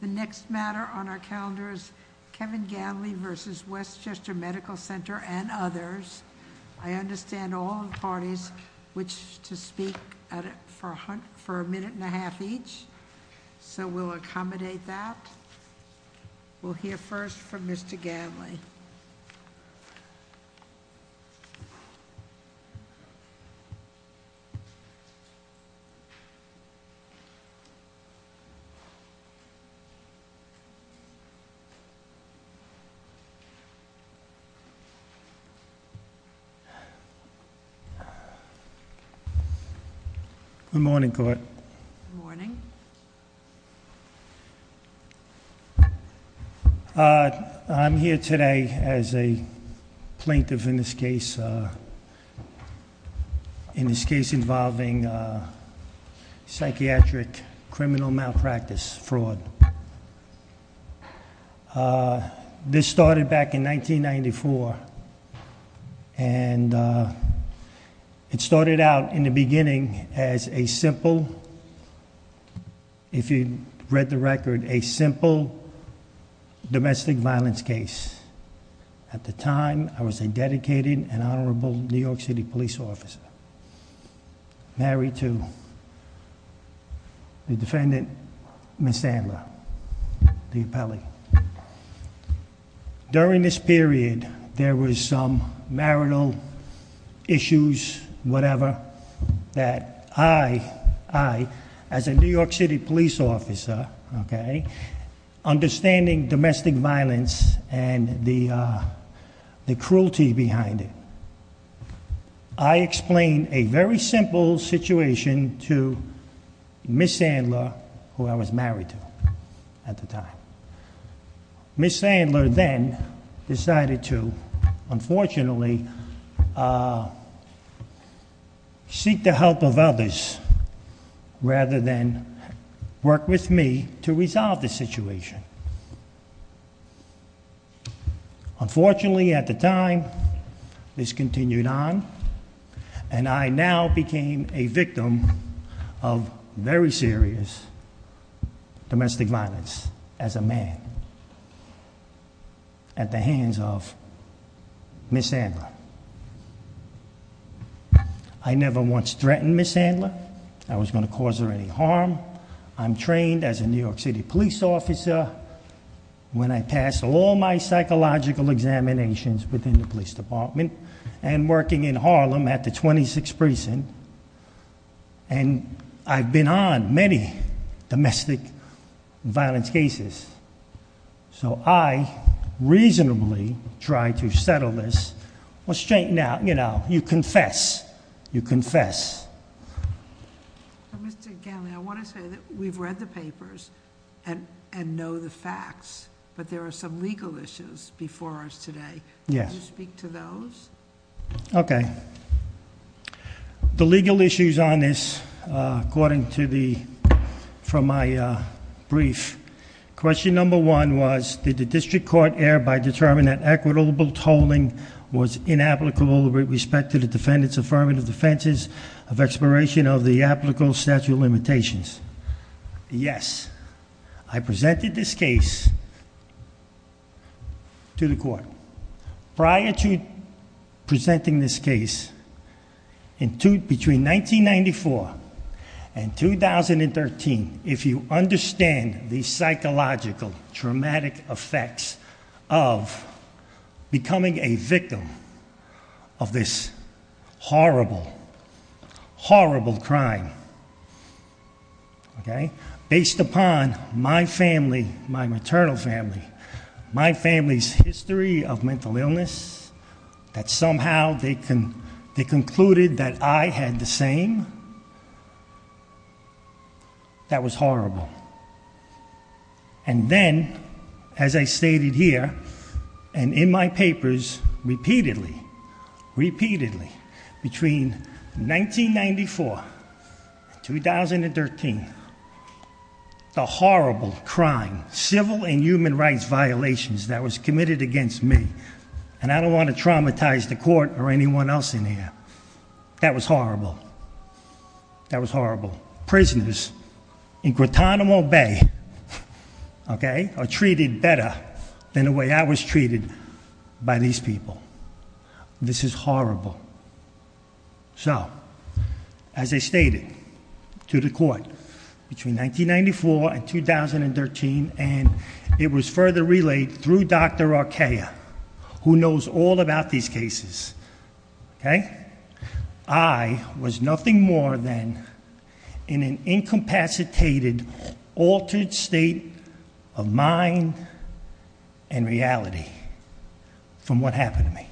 The next matter on our calendar is Kevin Ganley v. Westchester Medical Center and others. I understand all the parties wish to speak for a minute and a half each, so we'll accommodate that. We'll hear first from Mr. Ganley. Good morning, court. Good morning. I'm here today as a plaintiff in this case. In this case involving psychiatric criminal malpractice fraud. This started back in 1994 and it started out in the beginning as a simple, if you read the record, a simple domestic violence case. At the time, I was a dedicated and honorable New York City police officer. Married to the defendant, Ms. Sandler. The appellee. During this period, there was some marital issues, whatever, that I, as a New York City police officer, understanding domestic violence and the cruelty behind it. I explained a very simple situation to Ms. Sandler, who I was married to at the time. Ms. Sandler then decided to, unfortunately, seek the help of others rather than work with me to resolve the situation. Unfortunately, at the time, this continued on and I now became a victim of very serious domestic violence as a man at the hands of Ms. Sandler. I never once threatened Ms. Sandler. I was going to cause her any harm. I'm trained as a New York City police officer when I passed all my 6th precinct, and I've been on many domestic violence cases. So I reasonably tried to settle this. Well, straight now, you confess. You confess. Mr. Ganley, I want to say that we've read the papers and know the facts. But there are some legal issues before us today. Yes. Can you speak to those? Okay. The legal issues on this, according to the, from my brief. Question number one was, did the district court err by determining that equitable tolling was inapplicable with respect to the defendant's affirmative defenses of expiration of the applicable statute of limitations? Yes. I presented this case to the court. Prior to presenting this case, between 1994 and 2013, if you understand the psychological, traumatic effects of becoming a victim of this horrible, horrible crime. Okay? Based upon my family, my maternal family, my family's history of mental illness, that somehow they concluded that I had the same. That was horrible. And then, as I stated here, and in my papers repeatedly, repeatedly, between 1994 and 2013, the horrible crime, civil and human rights violations that was committed against me. And I don't want to traumatize the court or anyone else in here. That was horrible. That was horrible. Prisoners in Guantanamo Bay, okay, are treated better than the way I was treated by these people. This is horrible. So, as I stated to the court, between 1994 and 2013, and it was further relayed through Dr. Arkaya, who knows all about these cases, okay? I was nothing more than in an incapacitated, altered state of mind and reality from what happened to me.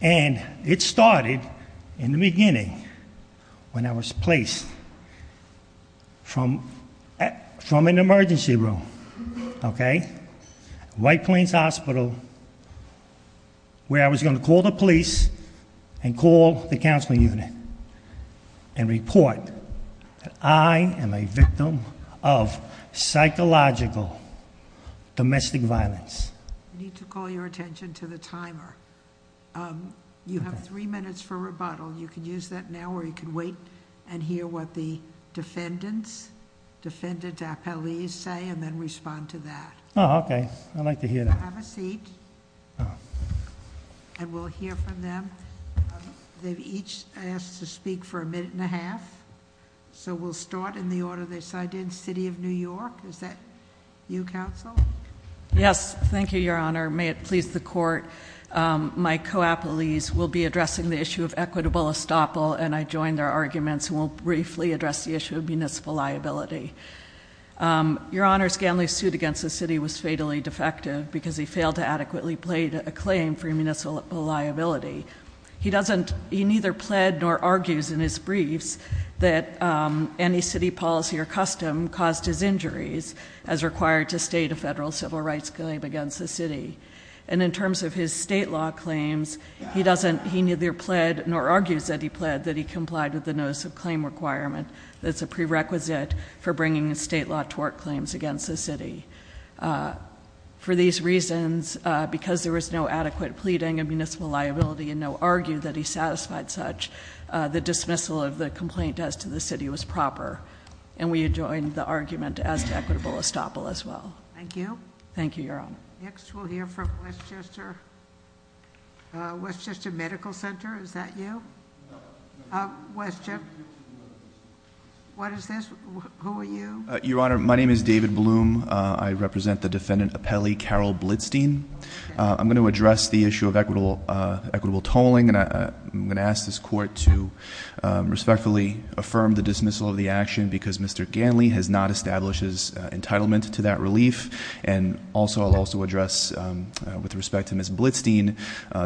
And it started in the beginning when I was placed from an emergency room, okay? White Plains Hospital, where I was going to call the police and call the counseling unit and report that I am a victim of psychological domestic violence. I need to call your attention to the timer. You have three minutes for rebuttal. You can use that now or you can wait and hear what the defendants, defendant appellees say and then respond to that. Okay, I'd like to hear that. Have a seat. And we'll hear from them. They've each asked to speak for a minute and a half. So we'll start in the order they signed in, City of New York, is that you, counsel? Yes, thank you, Your Honor. May it please the court. My co-appellees will be addressing the issue of equitable estoppel, and I join their arguments and will briefly address the issue of municipal liability. Your Honor, Scandley's suit against the city was fatally defective because he failed to adequately plead a claim for municipal liability. He neither pled nor argues in his briefs that any city policy or federal civil rights claim against the city. And in terms of his state law claims, he neither pled nor argues that he pled, that he complied with the notice of claim requirement. That's a prerequisite for bringing state law tort claims against the city. For these reasons, because there was no adequate pleading of municipal liability and no argue that he satisfied such, the dismissal of the complaint as to the city was proper. And we adjoin the argument as to equitable estoppel as well. Thank you. Thank you, Your Honor. Next, we'll hear from Westchester Medical Center. Is that you? Westchester. What is this? Who are you? Your Honor, my name is David Bloom. I represent the defendant Appelli Carol Blitstein. I'm going to address the issue of equitable tolling. And I'm going to ask this court to respectfully affirm the dismissal of the action because Mr. Ganley has not established his entitlement to that relief. And also, I'll also address, with respect to Ms. Blitstein,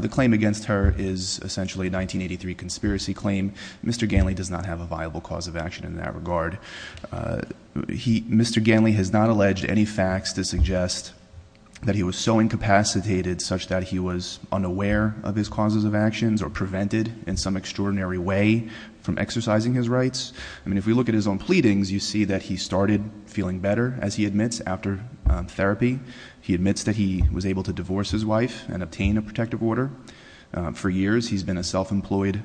the claim against her is essentially a 1983 conspiracy claim. Mr. Ganley does not have a viable cause of action in that regard. Mr. Ganley has not alleged any facts to suggest that he was so incapacitated such that he was unaware of his causes of actions or prevented in some extraordinary way from exercising his rights. I mean, if we look at his own pleadings, you see that he started feeling better, as he admits, after therapy. He admits that he was able to divorce his wife and obtain a protective order. For years, he's been a self-employed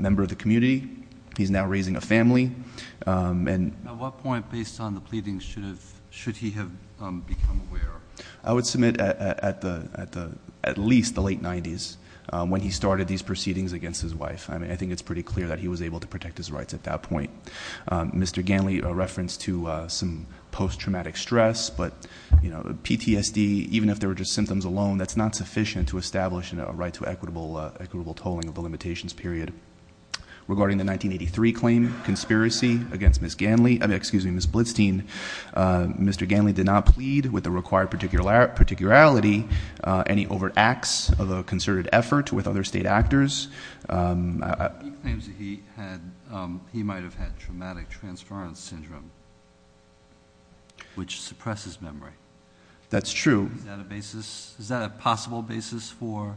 member of the community. He's now raising a family, and- At what point, based on the pleadings, should he have become aware? I would submit at least the late 90s, when he started these proceedings against his wife. I mean, I think it's pretty clear that he was able to protect his rights at that point. Mr. Ganley, a reference to some post-traumatic stress. But PTSD, even if they were just symptoms alone, that's not sufficient to establish a right to equitable tolling of the limitations period. Regarding the 1983 claim, conspiracy against Ms. Blitstein, Mr. Ganley did not plead with the required particularity. Any overt acts of a concerted effort with other state actors. He claims that he might have had traumatic transference syndrome, which suppresses memory. That's true. Is that a possible basis for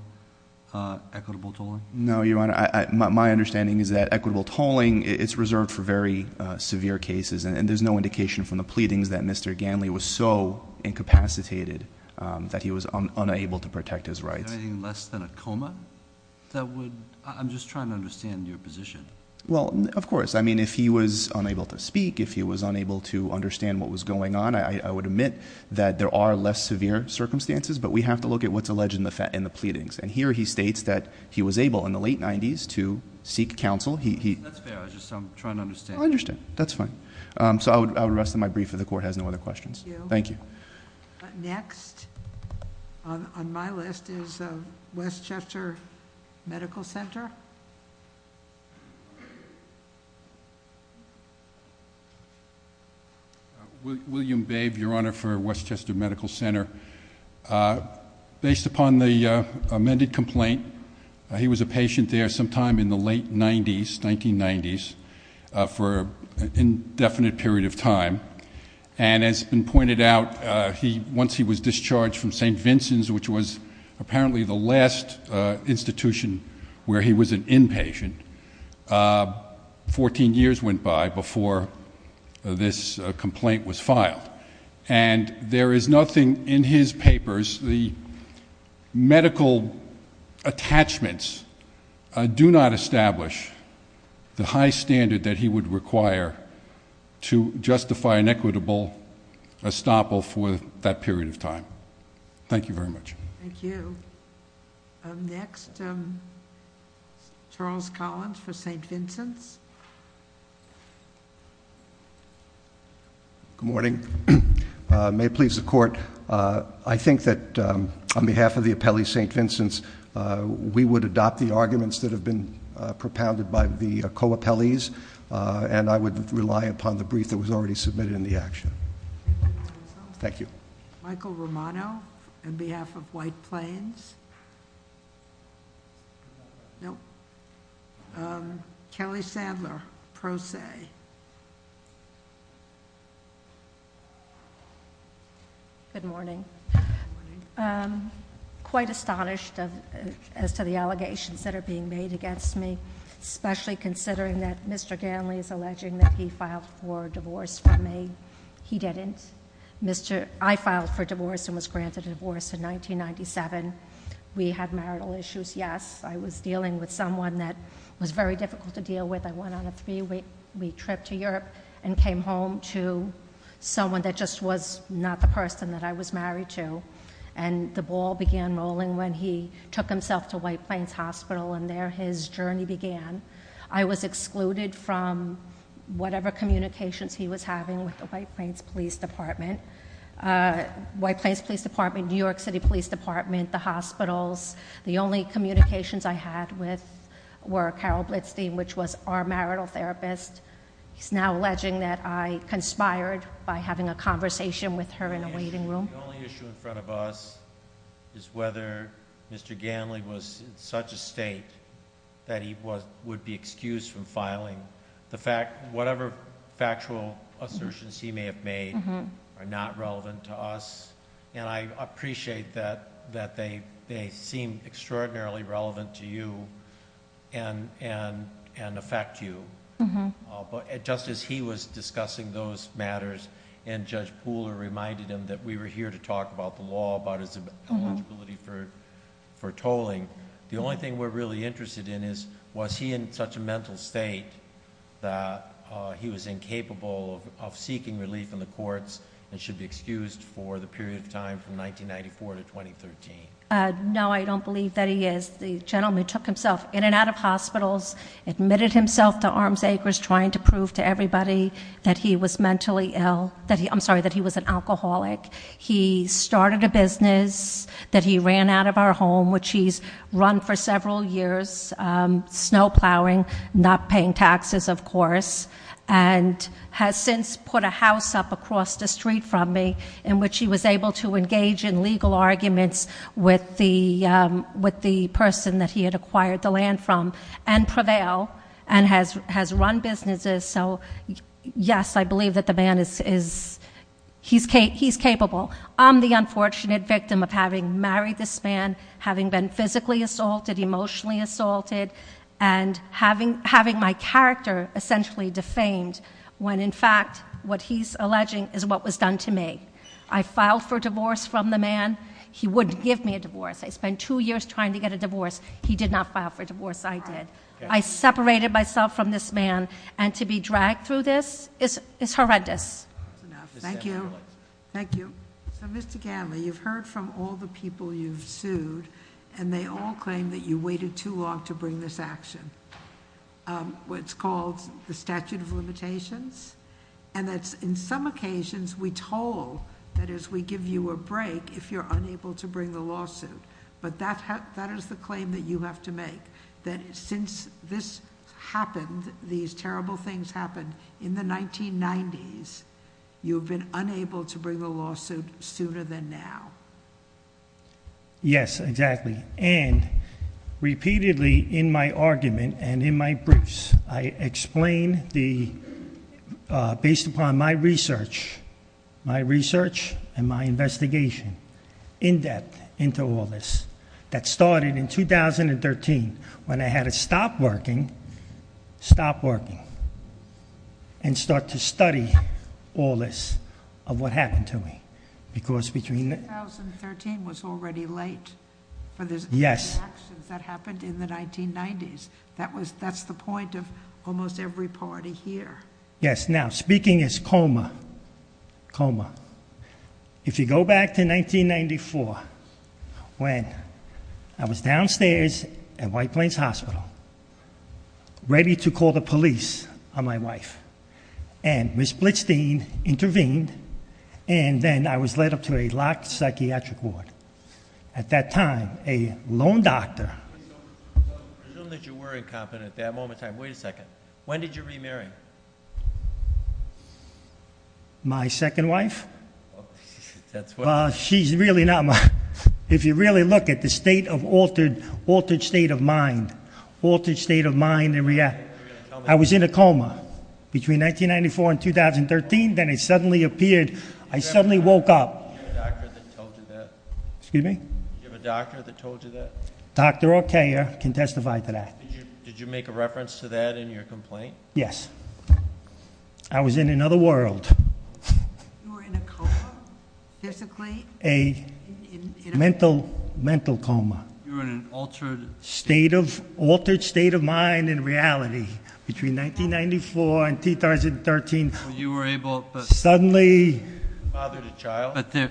equitable tolling? No, Your Honor, my understanding is that equitable tolling, it's reserved for very severe cases. And there's no indication from the pleadings that Mr. Ganley was so incapacitated that he was unable to protect his rights. Anything less than a coma? That would, I'm just trying to understand your position. Well, of course. I mean, if he was unable to speak, if he was unable to understand what was going on, I would admit that there are less severe circumstances, but we have to look at what's alleged in the pleadings. And here he states that he was able in the late 90s to seek counsel. That's fair, I'm just trying to understand. I understand, that's fine. So I would rest on my brief, if the court has no other questions. Thank you. Next on my list is Westchester Medical Center. William Babe, Your Honor, for Westchester Medical Center. Based upon the amended complaint, he was a patient there sometime in the late 90s, 1990s, for an indefinite period of time. And as has been pointed out, once he was discharged from St. Vincent's, which was apparently the last institution where he was an inpatient, 14 years went by before this complaint was filed. And there is nothing in his papers, the medical attachments do not establish the high standard that he would require to justify an equitable estoppel for that period of time. Thank you very much. Thank you. Next, Charles Collins for St. Vincent's. Good morning. May it please the court. I think that on behalf of the appellee, St. Vincent's, we would adopt the arguments that have been propounded by the co-appellees. And I would rely upon the brief that was already submitted in the action. Thank you. Michael Romano, on behalf of White Plains. Kelly Sadler, Pro Se. Good morning. Quite astonished as to the allegations that are being made against me, especially considering that Mr. Ganley is alleging that he filed for divorce from me. He didn't. I filed for divorce and was granted a divorce in 1997. We had marital issues, yes. I was dealing with someone that was very difficult to deal with. I went on a three week trip to Europe and came home to someone that just was not the person that I was married to and the ball began rolling when he took himself to White Plains Hospital and there his journey began. I was excluded from whatever communications he was having with the White Plains Police Department. White Plains Police Department, New York City Police Department, the hospitals. The only communications I had with were Carol Blitzstein, which was our marital therapist. He's now alleging that I conspired by having a conversation with her in a waiting room. The only issue in front of us is whether Mr. Ganley was in such a state that he would be excused from filing. The fact, whatever factual assertions he may have made are not relevant to us. And I appreciate that they seem extraordinarily relevant to you and affect you. But just as he was discussing those matters and Judge Pooler reminded him that we were here to talk about the law, about his eligibility for tolling, the only thing we're really interested in is, was he in such a mental state that he was incapable of seeking relief in the courts and should be excused for the period of time from 1994 to 2013? No, I don't believe that he is. The gentleman took himself in and out of hospitals, admitted himself to Arms Acres, trying to prove to everybody that he was mentally ill, I'm sorry, that he was an alcoholic. He started a business that he ran out of our home, which he's run for several years, snow plowing, not paying taxes, of course. And has since put a house up across the street from me, in which he was able to engage in legal arguments with the person that he had acquired the land from and prevail. And has run businesses, so yes, I believe that the man is, he's capable. I'm the unfortunate victim of having married this man, having been physically assaulted, emotionally assaulted, and having my character essentially defamed. When in fact, what he's alleging is what was done to me. I filed for divorce from the man, he wouldn't give me a divorce. I spent two years trying to get a divorce, he did not file for divorce, I did. I separated myself from this man, and to be dragged through this is horrendous. Thank you. Thank you. So Mr. Gatley, you've heard from all the people you've sued, and they all claim that you waited too long to bring this action. What's called the statute of limitations, and that's in some occasions we told, that is we give you a break if you're unable to bring the lawsuit. But that is the claim that you have to make, that since this happened, these terrible things happened in the 1990s, you've been unable to bring the lawsuit sooner than now. Yes, exactly, and repeatedly in my argument and in my briefs, I explain based upon my research, my research and my investigation in depth into all this. That started in 2013 when I had to stop working, stop working, and start to study all this, of what happened to me. Because between- 2013 was already late for the actions that happened in the 1990s. That's the point of almost every party here. Yes, now speaking as coma, coma, if you go back to 1994, when I was downstairs at White Plains Hospital, ready to call the police on my wife, and Ms. Blitzstein intervened, and then I was led up to a locked psychiatric ward. At that time, a lone doctor- I assume that you were incompetent at that moment in time, wait a second. When did you remarry? My second wife? She's really not my, if you really look at the state of altered state of mind. Altered state of mind, I was in a coma. Between 1994 and 2013, then I suddenly appeared, I suddenly woke up. Do you have a doctor that told you that? Excuse me? Do you have a doctor that told you that? Doctor Ortega can testify to that. Did you make a reference to that in your complaint? Yes. I was in another world. You were in a coma physically? A mental coma. You were in an altered- State of, altered state of mind and reality. Between 1994 and 2013, you were able to- Suddenly- Father to child. But there,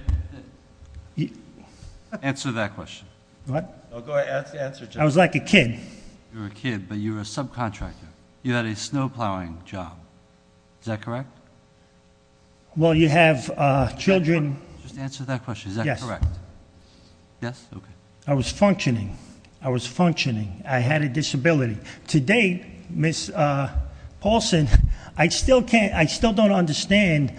answer that question. What? Go ahead, ask the answer. I was like a kid. You were a kid, but you were a subcontractor. You had a snow plowing job, is that correct? Well, you have children- Just answer that question, is that correct? Yes. Yes, okay. I was functioning. I was functioning. I had a disability. To date, Ms. Paulson, I still don't understand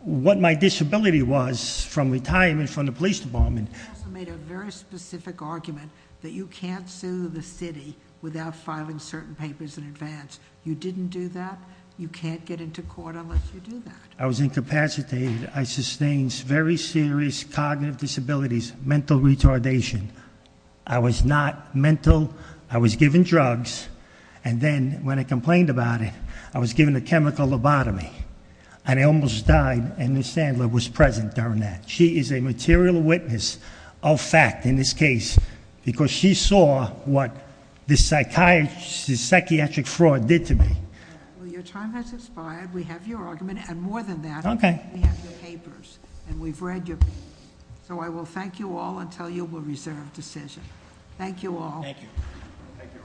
what my disability was from retirement from the police department. You also made a very specific argument that you can't sue the city without filing certain papers in advance. You didn't do that. You can't get into court unless you do that. I was incapacitated. I sustained very serious cognitive disabilities, mental retardation. I was not mental. I was given drugs, and then when I complained about it, I was given a chemical lobotomy. And I almost died, and Ms. Sandler was present during that. She is a material witness of fact in this case, because she saw what this psychiatric fraud did to me. Well, your time has expired. We have your argument, and more than that, we have your papers, and we've read your papers. So I will thank you all until you will reserve decision. Thank you all. Thank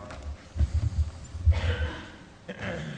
you.